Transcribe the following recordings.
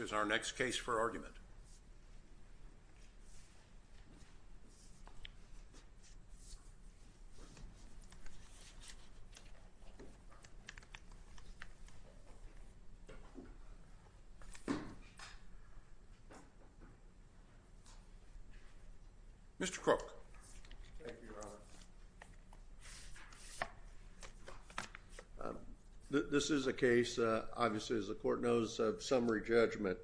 is our next case for argument. Mr. Crook. This is a case obviously as the court knows of summary judgment.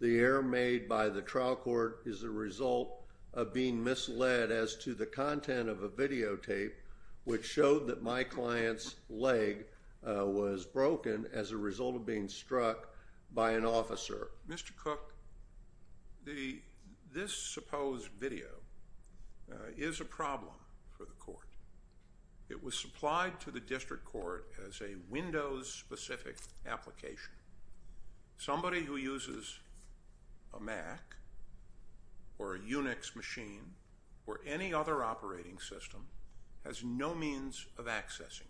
The error made by the trial court is the result of being misled as to the content of a videotape which showed that my client's leg was broken as a result of being is a problem for the court. It was supplied to the district court as a Windows specific application. Somebody who uses a Mac or a Unix machine or any other operating system has no means of accessing it.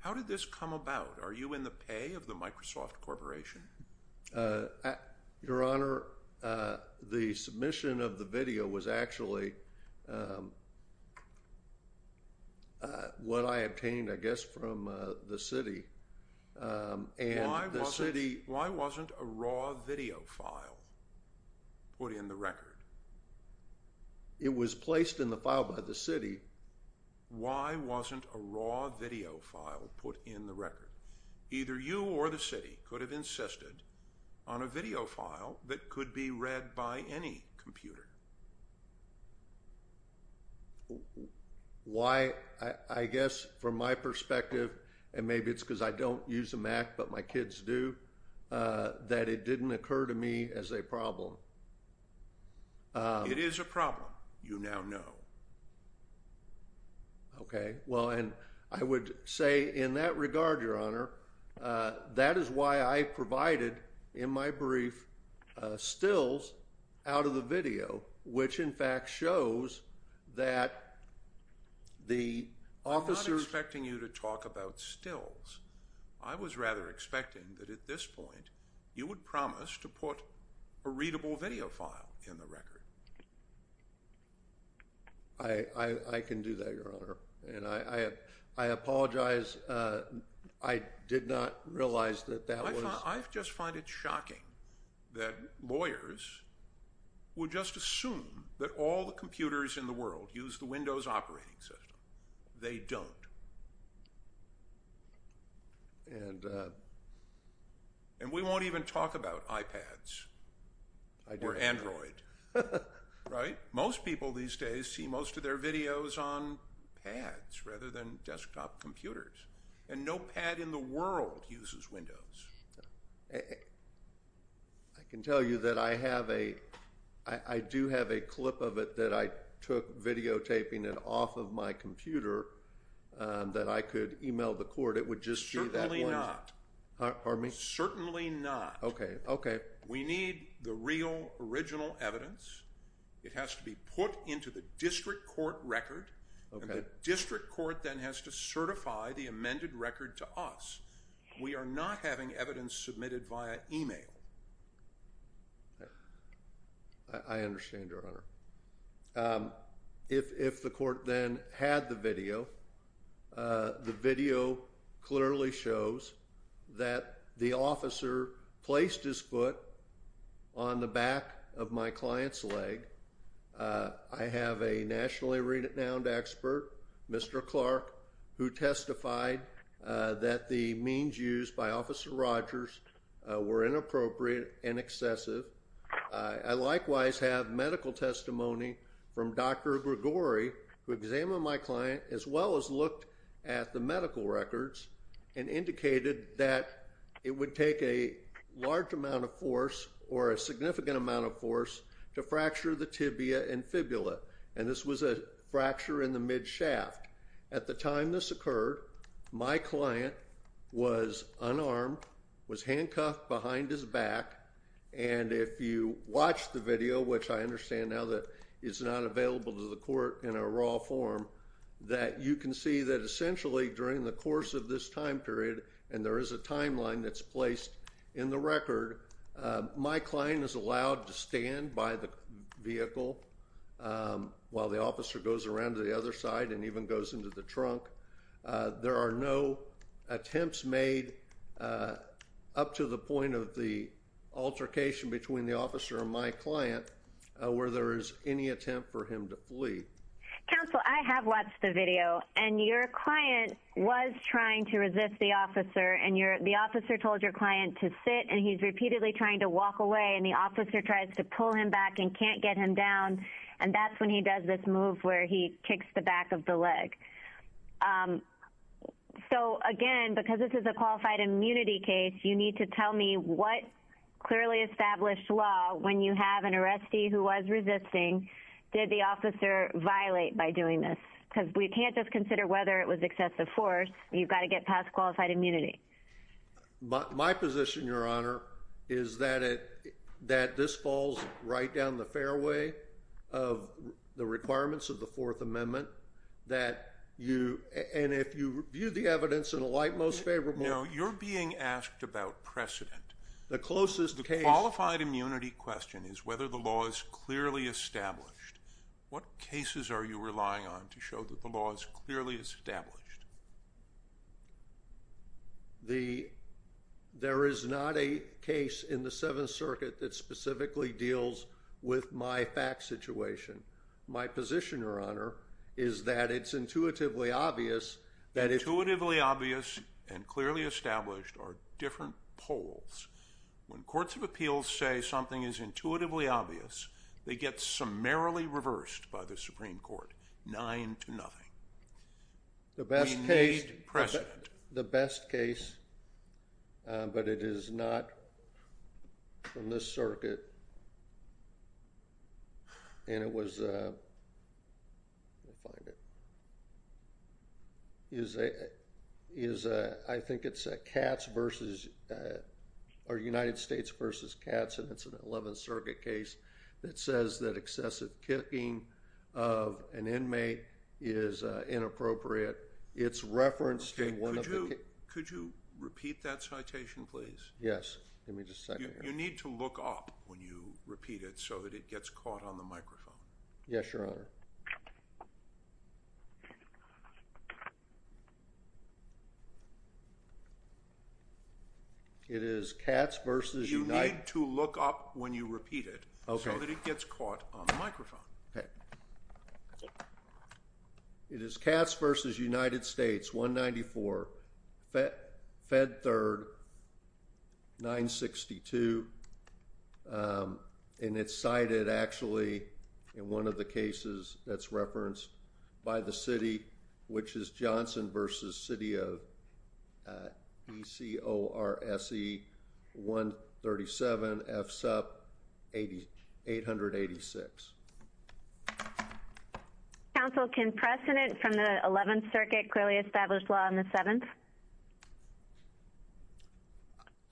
How did this come about? Are you in the pay of the Microsoft Corporation? Your Honor, the submission of the video was actually what I obtained I guess from the city. Why wasn't a raw video file put in the record? It was placed in the file by the city. Why wasn't a raw video file put in the record? Either you or the city could have insisted on a video file that could be read by any computer. Why I guess from my perspective and maybe it's because I don't use a Mac but my kids do that it didn't occur to me as a problem. It is a problem you now know. Okay well and I would say in that regard, Your Honor, that is why I provided in my brief stills out of the video which in fact shows that the officers... I'm not expecting you to talk about stills. I was rather expecting that at this point you would promise to put a I apologize. I did not realize that that was... I just find it shocking that lawyers would just assume that all the computers in the world use the Windows operating system. They don't. And we won't even talk about iPads or Android, right? Most people these days see most of their videos on pads rather than desktop computers. And no pad in the world uses Windows. I can tell you that I have a... I do have a clip of it that I took videotaping it off of my computer that I could email the court. It would just... Certainly not. Pardon me? Certainly not. Okay, okay. We need the real original evidence. It has to be put into the district court record. The district court then has to certify the amended record to us. We are not having evidence submitted via email. I understand, Your Honor. If the court then had the video, the video clearly shows that the officer placed his foot on the back of my client's leg. I have a nationally renowned expert, Mr. Clark, who testified that the means used by Officer Rogers were inappropriate and excessive. I likewise have medical testimony from Dr. Grigori who examined my client as well as looked at the medical records and indicated that it would take a large amount of force or a significant amount of force to fracture the tibia and fibula. And this was a fracture in the mid-shaft. At the time this occurred, my client was unarmed, was handcuffed behind his back. And if you watch the video, which I understand now that it's not available to the court in a raw form, that you can see that in the course of this time period, and there is a timeline that's placed in the record, my client is allowed to stand by the vehicle while the officer goes around to the other side and even goes into the trunk. There are no attempts made up to the point of the altercation between the officer and my client where there is any attempt for him to flee. Counsel, I have watched the video and your client was trying to resist the officer and the officer told your client to sit and he's repeatedly trying to walk away and the officer tries to pull him back and can't get him down and that's when he does this move where he kicks the back of the leg. So again, because this is a qualified immunity case, you need to tell me what clearly established law, when you have an arrestee who was resisting, did the officer violate by doing this? Because we can't just consider whether it was excessive force, you've got to get past qualified immunity. My position, Your Honor, is that it that this falls right down the fairway of the requirements of the Fourth Amendment that you, and if you view the evidence in a light most favorable... No, you're being asked about precedent. The closest case... The qualified immunity question is whether the law is clearly established. There is not a case in the Seventh Circuit that specifically deals with my fact situation. My position, Your Honor, is that it's intuitively obvious that... Intuitively obvious and clearly established are different polls. When courts of appeals say something is intuitively obvious, they get summarily reversed by the Supreme Court, nine to one. The best case... We need precedent. The best case, but it is not from this circuit, and it was, let me find it, is a, I think it's a Katz versus, or United States versus Katz, and it's an Eleventh Circuit case that says that excessive kicking of an opponent is inappropriate. It's referenced in one of the... Could you repeat that citation, please? Yes, give me just a second here. You need to look up when you repeat it so that it gets caught on the microphone. Yes, Your Honor. It is Katz versus United... You need to look up when you repeat it so that it gets caught on the microphone. It is Katz versus United States, 194, Fed Third, 962, and it's cited actually in one of the cases that's referenced by the city, which is Johnson versus city of B-C-O-R-S-E, 137, F-SUP, 886. Counsel, can precedent from the Eleventh Circuit clearly establish law on the Seventh?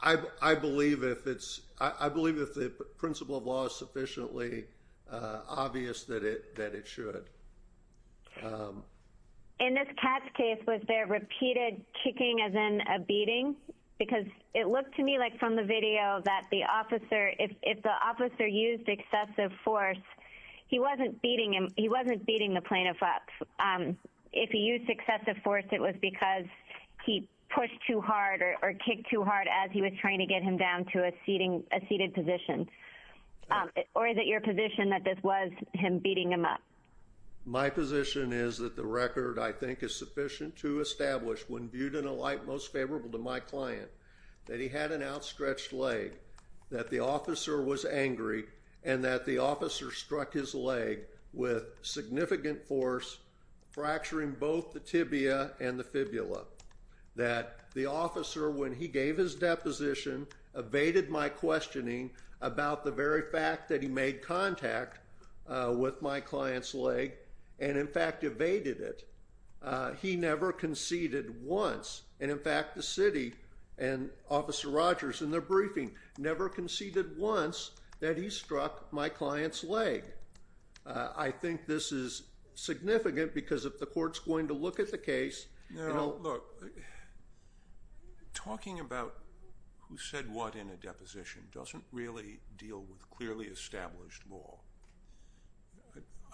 I believe if it's... I believe if the principle of law is sufficiently obvious that it should. In this Katz case, was there repeated kicking as in a beating? Because it looked to me like from the video that the officer, if the officer used excessive force, he wasn't beating him, he wasn't beating the plaintiff up. If he used excessive force, it was because he pushed too hard or kicked too hard as he was trying to get him down to a My position is that the record, I think, is sufficient to establish when viewed in a light most favorable to my client that he had an outstretched leg, that the officer was angry, and that the officer struck his leg with significant force, fracturing both the tibia and the fibula. That the officer, when he gave his deposition, evaded my questioning about the very fact that he made contact with my client's leg, and in fact evaded it. He never conceded once, and in fact the city and Officer Rogers in their briefing never conceded once that he struck my client's leg. I think this is significant because if the court's going to look at the case... Talking about who said what in a deposition doesn't really deal with clearly established law.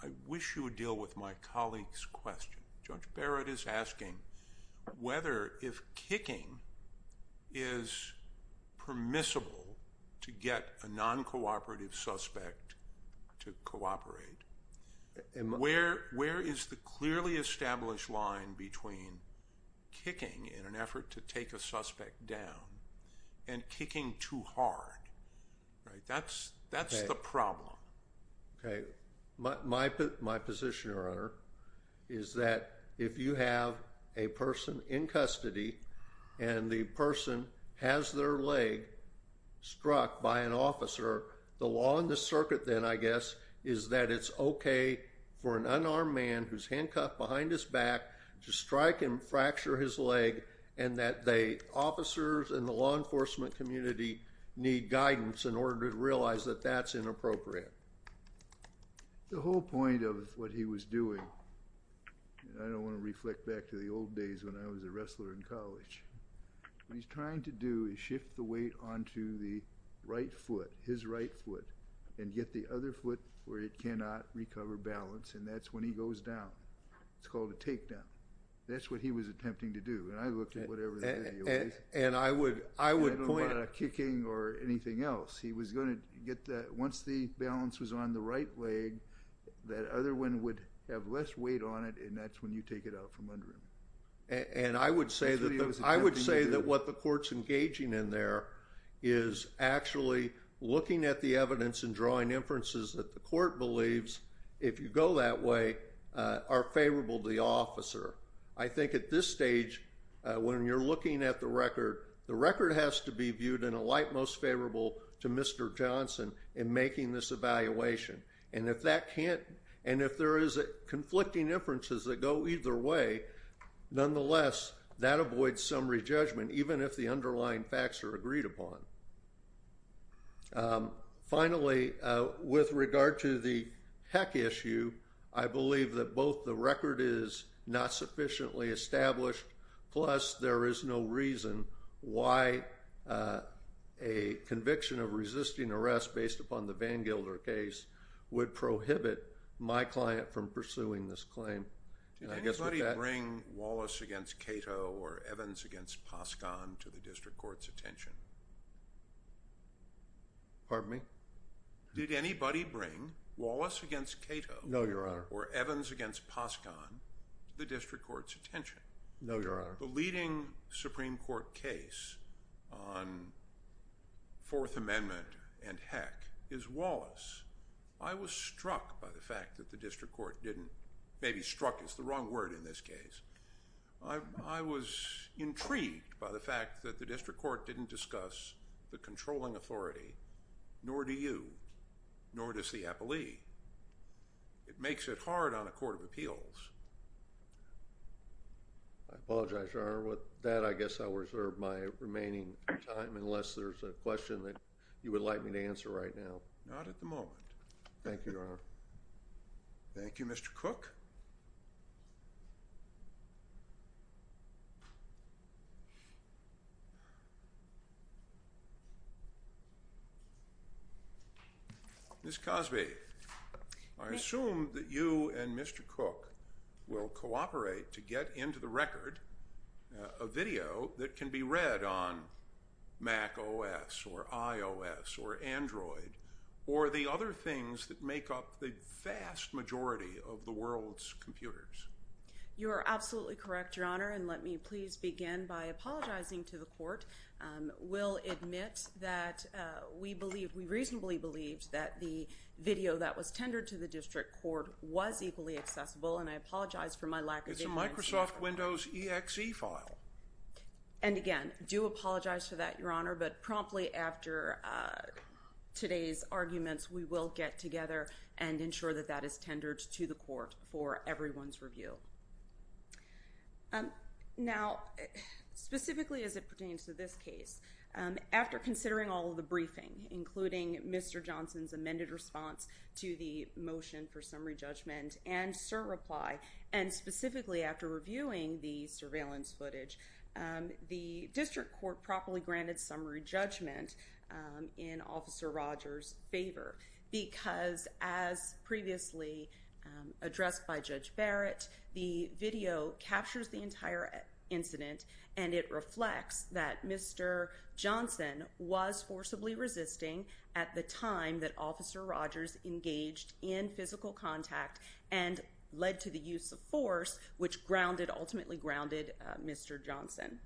I wish you would deal with my colleague's question. Judge Barrett is asking whether if kicking is permissible to get a non-cooperative suspect to cooperate, where is the clearly established line between kicking in an effort to take a suspect down and kicking too hard? That's the problem. My position, Your Honor, is that if you have a person in custody and the person has their leg struck by an officer, the law in the circuit then, I guess, is that it's okay for an unarmed man who's handcuffed behind his back to strike him, fracture his leg, and that the officers and the law enforcement community need guidance in order to realize that that's inappropriate. The whole point of what he was doing... I don't want to reflect back to the old days when I was a wrestler in college. What he's trying to do is shift the weight onto the right foot, his right foot, and get the other foot where it cannot recover balance, and that's when he goes down. It's called a takedown. That's what he was attempting to do, and I looked at whatever the video is. I don't know about a kicking or anything else. He was going to get that. Once the balance was on the right leg, that other one would have less weight on it, and that's when you take it out from under him. I would say that what the court's engaging in there is actually looking at the evidence and drawing inferences that the court believes, if you go that way, are favorable to the officer. I think at this stage, when you're looking at the record, the record has to be viewed in a light most favorable to Mr. Johnson in making this evaluation. If there is conflicting inferences that go either way, nonetheless, that avoids summary judgment, even if the underlying facts are agreed upon. Finally, with regard to the heck issue, I believe that both the record is not sufficiently established, plus there is no reason why a conviction of resisting arrest based upon the VanGilder case would prohibit my client from pursuing this claim. Did anybody bring Wallace against Cato or Evans against Poskan to the district court's attention? Pardon me? Did anybody bring Wallace against Cato or Evans against Poskan to the district court's attention? No, Your Honor. The leading Supreme Court case on Fourth Amendment and heck is Wallace. I was struck by the fact that the district court didn't—maybe struck is the wrong word in this case. I was intrigued by the fact that the district court didn't discuss the controlling authority, nor do you, nor does the appellee. It makes it hard on a court of appeals. I apologize, Your Honor. With that, I guess I'll reserve my remaining time unless there's a question that you would like me to answer right now. Not at the moment. Thank you, Your Honor. Thank you, Mr. Cook. Ms. Cosby, I assume that you and Mr. Cook will cooperate to get into the record a video that can be read on macOS or iOS or Android or the other things that make up the vast majority of the world's computers. You are absolutely correct, Your Honor, and let me please begin by apologizing to the court. We'll admit that we believe—we reasonably believed that the video that was tendered to the district court was equally accessible, and I apologize for my lack of— It's a Microsoft Windows EXE file. And again, do apologize for that, Your Honor, but promptly after today's arguments, we will get together and ensure that that is tendered to the court for everyone's review. Now, specifically as it pertains to this case, after considering all of the briefing, including Mr. Johnson's amended response to the motion for summary judgment and cert reply, and specifically after reviewing the surveillance footage, the district court properly granted summary judgment in Officer Rogers' favor because as previously addressed by Judge Barrett, the video captures the entire incident, and it reflects that Mr. Johnson was forcibly resisting at the time that Officer Rogers engaged in physical contact and led to the use of force, which grounded—ultimately grounded Mr. Johnson.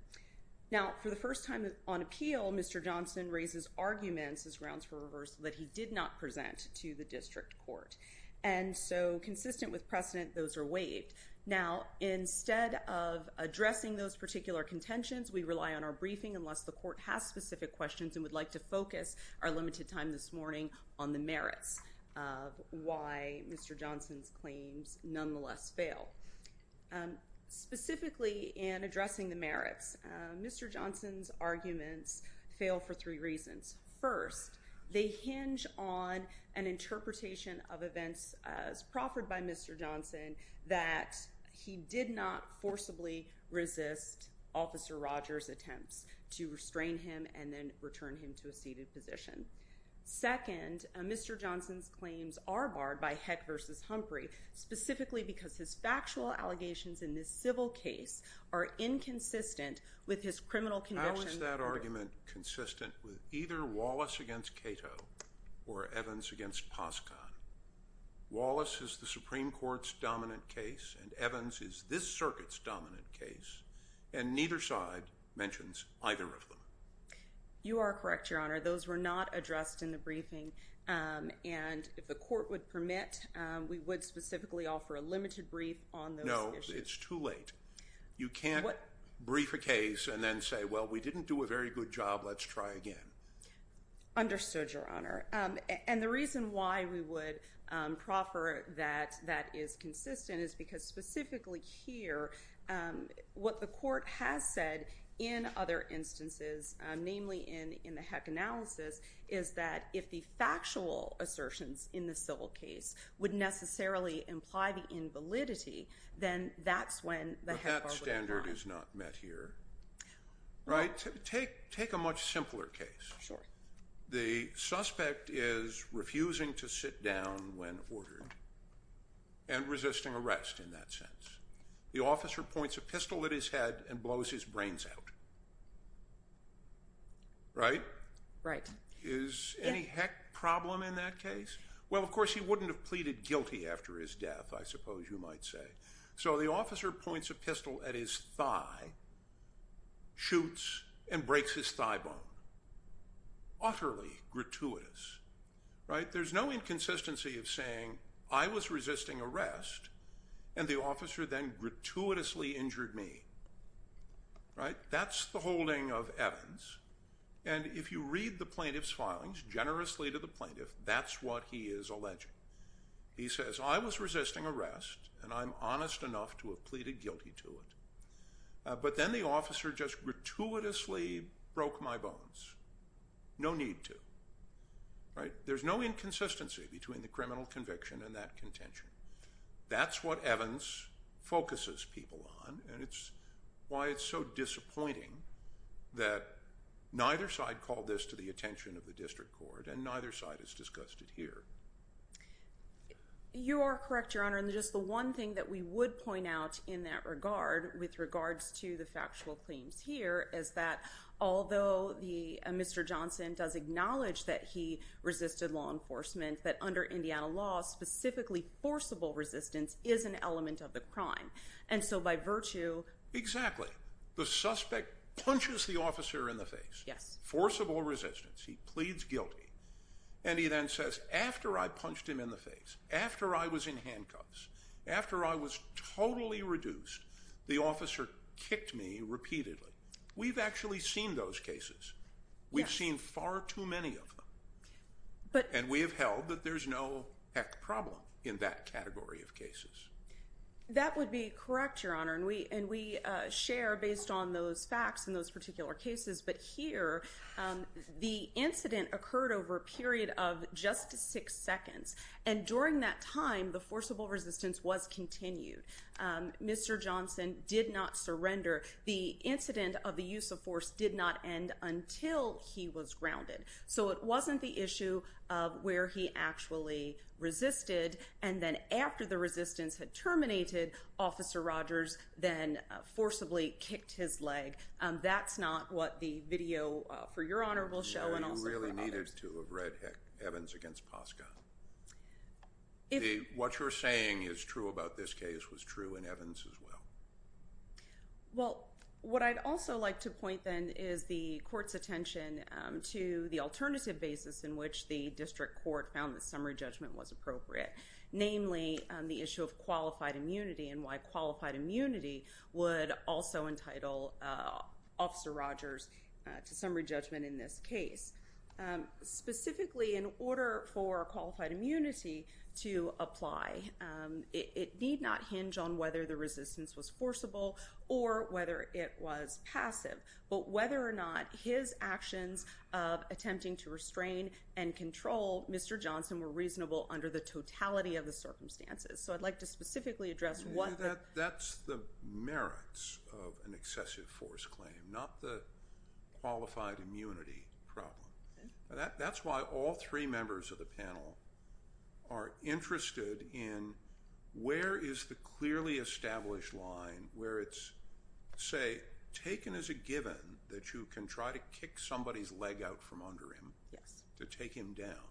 Now, for the first time on appeal, Mr. Johnson raises arguments as grounds for reversal that he did not present to the district court, and so consistent with precedent, those are waived. Now, instead of addressing those particular contentions, we rely on our briefing, unless the court has specific questions and would like to focus our limited time this morning on the merits of why Mr. Johnson's claims nonetheless fail. Specifically in addressing the merits, Mr. Johnson's arguments fail for three reasons. First, they hinge on an interpretation of events as proffered by Mr. Johnson that he did not forcibly resist Officer Rogers' attempts to restrain him and then return him to a seated position. Second, Mr. Johnson's claims are barred by Heck v. Humphrey, specifically because his factual allegations in this civil case are inconsistent with his criminal convictions. How is that argument consistent with either Wallace against Cato or Evans against Pascon? Wallace is the Supreme Court's dominant case, and Evans is this circuit's dominant case, and neither side mentions either of them. You are correct, Your Honor. Those were not addressed in the briefing, and if the court would permit, we would specifically offer a limited brief on those issues. No, it's too late. You can't brief a case and then say, well, we didn't do a very good job. Let's try again. Understood, Your Honor. And the reason why we would proffer that that is consistent is because specifically here, what the court has said in other instances, namely in the Heck analysis, is that if the factual assertions in the civil case would necessarily imply the invalidity, then that's when the Heck bar would apply. But that standard is not met here, right? Take a much simpler case. Sure. The suspect is refusing to sit down when ordered and resisting arrest in that sense. The officer points a pistol at his head and blows his brains out. Right? Right. Is any Heck problem in that case? Well, of course, he wouldn't have pleaded guilty after his death, I suppose you might say. So the officer points a pistol at his thigh, shoots, and breaks his thigh bone. Utterly gratuitous, right? There's no inconsistency of saying, I was resisting arrest, and the officer then gratuitously injured me. Right? That's the holding of Evans. And if you read the plaintiff's filings generously to the plaintiff, that's what he is alleging. He says, I was resisting arrest, and I'm honest enough to have pleaded guilty to it. But then the officer just gratuitously broke my bones. No need to. Right? There's no inconsistency between the criminal conviction and that contention. That's what Evans focuses people on. And it's why it's so disappointing that neither side called this to the attention of the district court, and neither side has discussed it here. You are correct, Your Honor. And just the one thing that we would point out in that regard, with regards to the factual claims here, is that although Mr. Johnson does acknowledge that he resisted law enforcement, that under Indiana law, specifically forcible resistance, is an element of the crime. And so by virtue… Exactly. The suspect punches the officer in the face. Yes. Forcible resistance. He pleads guilty. And he then says, after I punched him in the face, after I was in handcuffs, after I was totally reduced, the officer kicked me repeatedly. We've actually seen those cases. We've seen far too many of them. And we have held that there's no heck problem in that category of cases. That would be correct, Your Honor. And we share based on those facts in those particular cases. But here, the incident occurred over a period of just six seconds. And during that time, the forcible resistance was continued. Mr. Johnson did not surrender. The incident of the use of force did not end until he was grounded. So it wasn't the issue of where he actually resisted. And then after the resistance had terminated, Officer Rogers then forcibly kicked his leg. That's not what the video for Your Honor will show and also for others. Evans against Poska. What you're saying is true about this case was true in Evans as well. Well, what I'd also like to point then is the court's attention to the alternative basis in which the district court found the summary judgment was appropriate, namely the issue of qualified immunity would also entitle Officer Rogers to summary judgment in this case. Specifically, in order for qualified immunity to apply, it need not hinge on whether the resistance was forcible or whether it was passive. But whether or not his actions of attempting to restrain and control Mr. Johnson were reasonable under the totality of the circumstances. So I'd like to specifically address what the… That's the merits of an excessive force claim, not the qualified immunity problem. That's why all three members of the panel are interested in where is the clearly established line where it's, say, taken as a given that you can try to kick somebody's leg out from under him to take him down.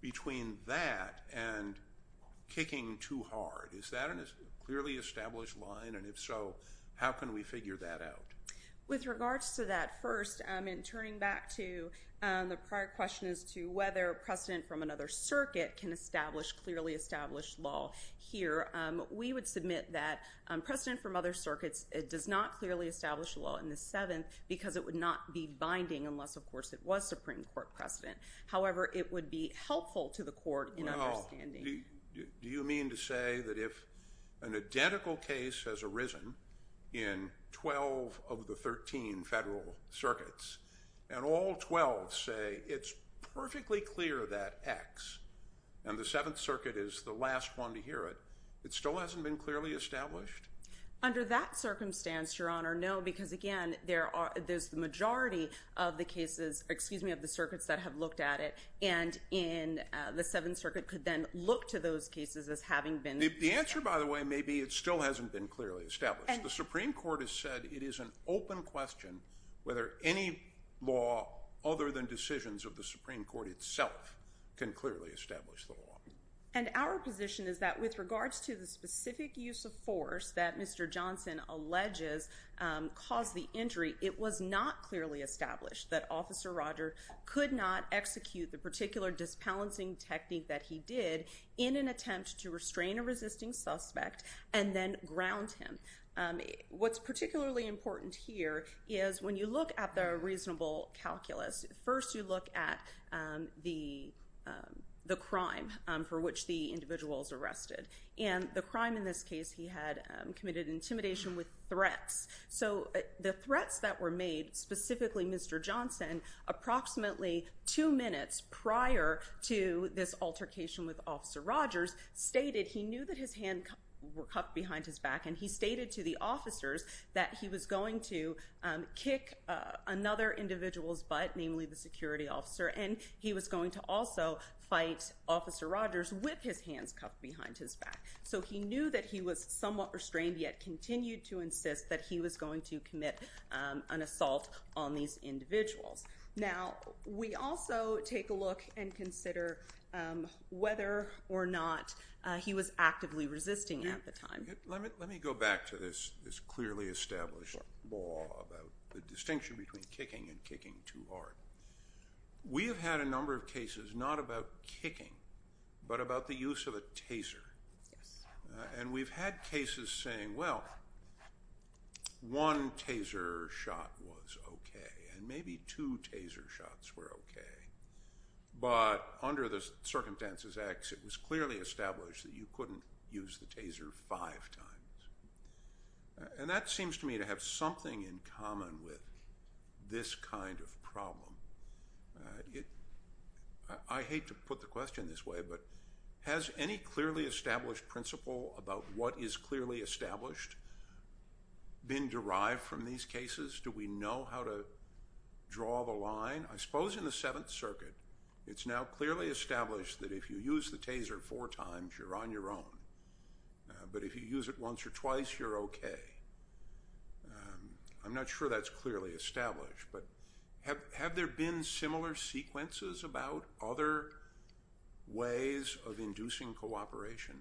Between that and kicking too hard, is that a clearly established line? And if so, how can we figure that out? With regards to that, first, in turning back to the prior question as to whether precedent from another circuit can establish clearly established law here, we would submit that precedent from other circuits does not clearly establish law in the 7th because it would not be binding unless, of course, it was Supreme Court precedent. However, it would be helpful to the court in understanding… Well, do you mean to say that if an identical case has arisen in 12 of the 13 federal circuits and all 12 say it's perfectly clear that X and the 7th Circuit is the last one to hear it, it still hasn't been clearly established? Under that circumstance, Your Honor, no. Because, again, there's the majority of the circuits that have looked at it and the 7th Circuit could then look to those cases as having been… The answer, by the way, may be it still hasn't been clearly established. The Supreme Court has said it is an open question whether any law other than decisions of the Supreme Court itself can clearly establish the law. And our position is that with regards to the specific use of force that Mr. Johnson alleges caused the injury, it was not clearly established that Officer Roger could not execute the particular disbalancing technique that he did in an attempt to restrain a resisting suspect and then ground him. What's particularly important here is when you look at the reasonable calculus, first you look at the crime for which the individual is arrested. And the crime in this case, he had committed intimidation with threats. So the threats that were made, specifically Mr. Johnson, approximately two minutes prior to this altercation with Officer Rogers, stated he knew that his hands were cuffed behind his back and he stated to the officers that he was going to kick another individual's butt, namely the security officer, and he was going to also fight Officer Rogers with his hands cuffed behind his back. So he knew that he was somewhat restrained yet continued to insist that he was going to commit an assault on these individuals. Now, we also take a look and consider whether or not he was actively resisting at the time. Let me go back to this clearly established law about the distinction between kicking and kicking too hard. We have had a number of cases not about kicking but about the use of a taser. And we've had cases saying, well, one taser shot was okay and maybe two taser shots were okay. But under the circumstances X, it was clearly established that you couldn't use the taser five times. And that seems to me to have something in common with this kind of problem. I hate to put the question this way, but has any clearly established principle about what is clearly established been derived from these cases? Do we know how to draw the line? I suppose in the Seventh Circuit, it's now clearly established that if you use the taser four times, you're on your own. But if you use it once or twice, you're okay. I'm not sure that's clearly established, but have there been similar sequences about other ways of inducing cooperation?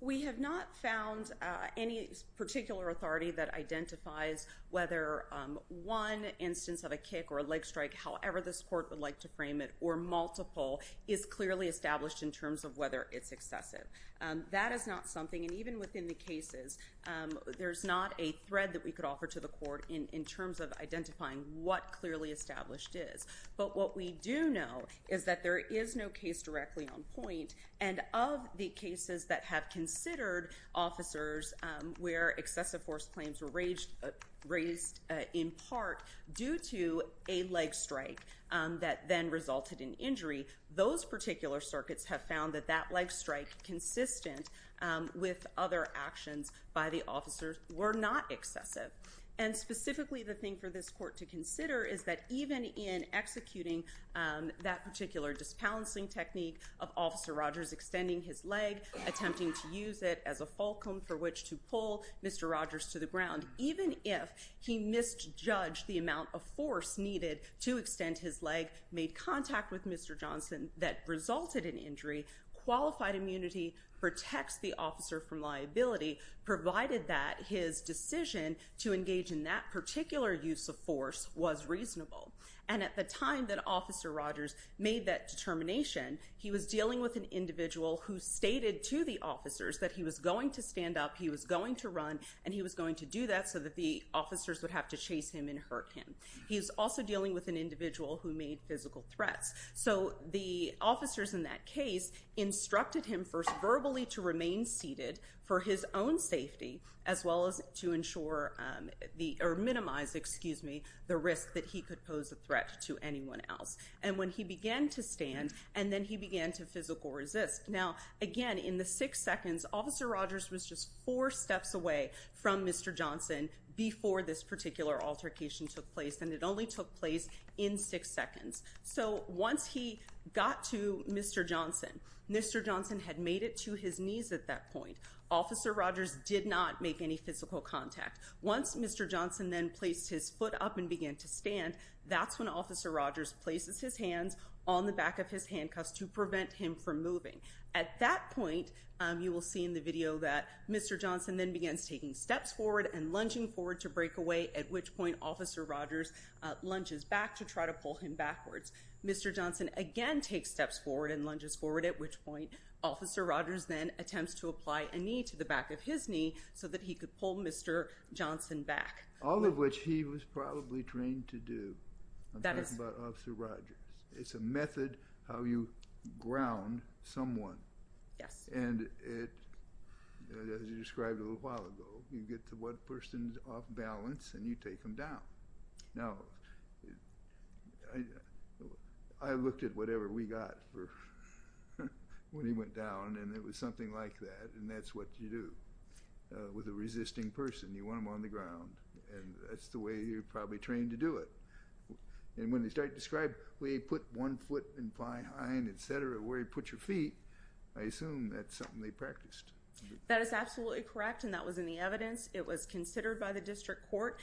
We have not found any particular authority that identifies whether one instance of a kick or a leg strike, however this court would like to frame it, or multiple, is clearly established in terms of whether it's excessive. That is not something. And even within the cases, there's not a thread that we could offer to the court in terms of identifying what clearly established is. But what we do know is that there is no case directly on point. And of the cases that have considered officers where excessive force claims were raised in part due to a leg strike that then resulted in injury, those particular circuits have found that that leg strike, consistent with other actions by the officers, were not excessive. And specifically, the thing for this court to consider is that even in executing that particular disbalancing technique of Officer Rogers extending his leg, attempting to use it as a fulcrum for which to pull Mr. Rogers to the ground, even if he misjudged the amount of force needed to extend his leg, made contact with Mr. Johnson that resulted in injury, qualified immunity protects the officer from liability, provided that his decision to engage in that particular use of force was reasonable. And at the time that Officer Rogers made that determination, he was dealing with an individual who stated to the officers that he was going to stand up, he was going to run, and he was going to do that so that the officers would have to chase him and hurt him. He was also dealing with an individual who made physical threats. So the officers in that case instructed him first verbally to remain seated for his own safety, as well as to minimize the risk that he could pose a threat to anyone else. And when he began to stand, and then he began to physical resist. Now, again, in the six seconds, Officer Rogers was just four steps away from Mr. Johnson before this particular altercation took place, and it only took place in six seconds. So once he got to Mr. Johnson, Mr. Johnson had made it to his knees at that point. Officer Rogers did not make any physical contact. Once Mr. Johnson then placed his foot up and began to stand, that's when Officer Rogers places his hands on the back of his handcuffs to prevent him from moving. At that point, you will see in the video that Mr. Johnson then begins taking steps forward and lunging forward to break away, at which point Officer Rogers lunges back to try to pull him backwards. Mr. Johnson again takes steps forward and lunges forward, at which point Officer Rogers then attempts to apply a knee to the back of his knee so that he could pull Mr. Johnson back. All of which he was probably trained to do. I'm talking about Officer Rogers. It's a method how you ground someone. Yes. And it, as you described a little while ago, you get to what person's off balance, and you take them down. Now, I looked at whatever we got for when he went down, and it was something like that, and that's what you do with a resisting person. You want them on the ground, and that's the way you're probably trained to do it. And when they start to describe where you put one foot and fly high and et cetera, where you put your feet, I assume that's something they practiced. That is absolutely correct, and that was in the evidence. It was considered by the district court,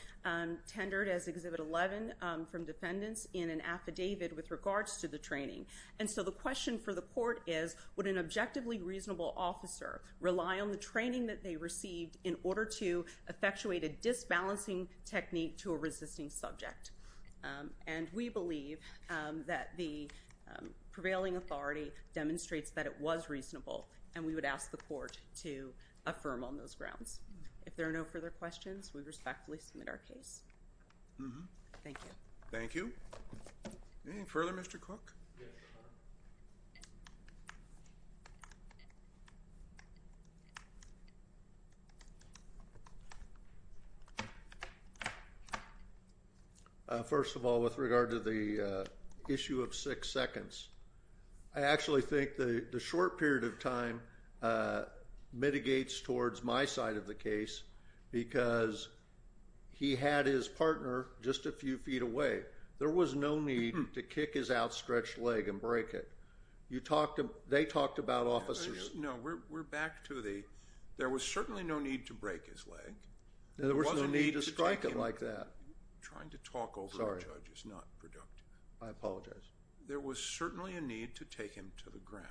tendered as Exhibit 11 from defendants in an affidavit with regards to the training. And so the question for the court is, would an objectively reasonable officer rely on the training that they received in order to effectuate a disbalancing technique to a resisting subject? And we believe that the prevailing authority demonstrates that it was reasonable, and we would ask the court to affirm on those grounds. If there are no further questions, we respectfully submit our case. Thank you. Thank you. Anything further, Mr. Cook? First of all, with regard to the issue of six seconds, I actually think the short period of time mitigates towards my side of the case because he had his partner just a few feet away. There was no need to kick his outstretched leg and break it. They talked about officers. No, we're back to the there was certainly no need to break his leg. There was no need to strike him like that. Trying to talk over the judge is not productive. I apologize. There was certainly a need to take him to the ground.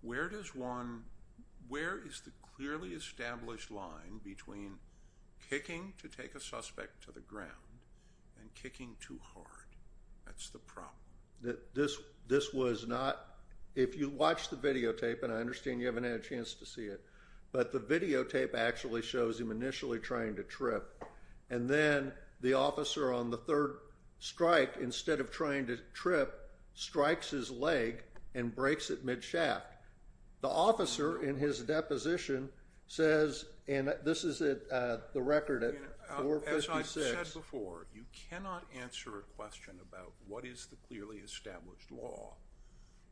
Where is the clearly established line between kicking to take a suspect to the ground and kicking too hard? That's the problem. This was not, if you watch the videotape, and I understand you haven't had a chance to see it, but the videotape actually shows him initially trying to trip, and then the officer on the third strike, instead of trying to trip, strikes his leg and breaks it mid-shaft. The officer in his deposition says, and this is the record at 456. As I've said before, you cannot answer a question about what is the clearly established law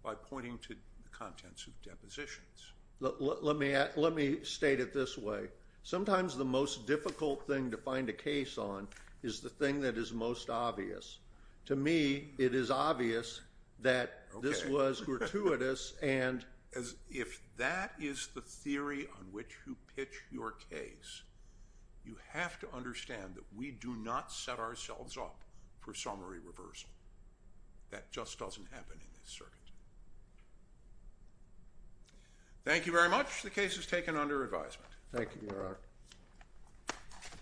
by pointing to the contents of depositions. Let me state it this way. Sometimes the most difficult thing to find a case on is the thing that is most obvious. To me, it is obvious that this was gratuitous, and if that is the theory on which you pitch your case, you have to understand that we do not set ourselves up for summary reversal. That just doesn't happen in this circuit. Thank you very much. The case is taken under advisement. Thank you, Your Honor.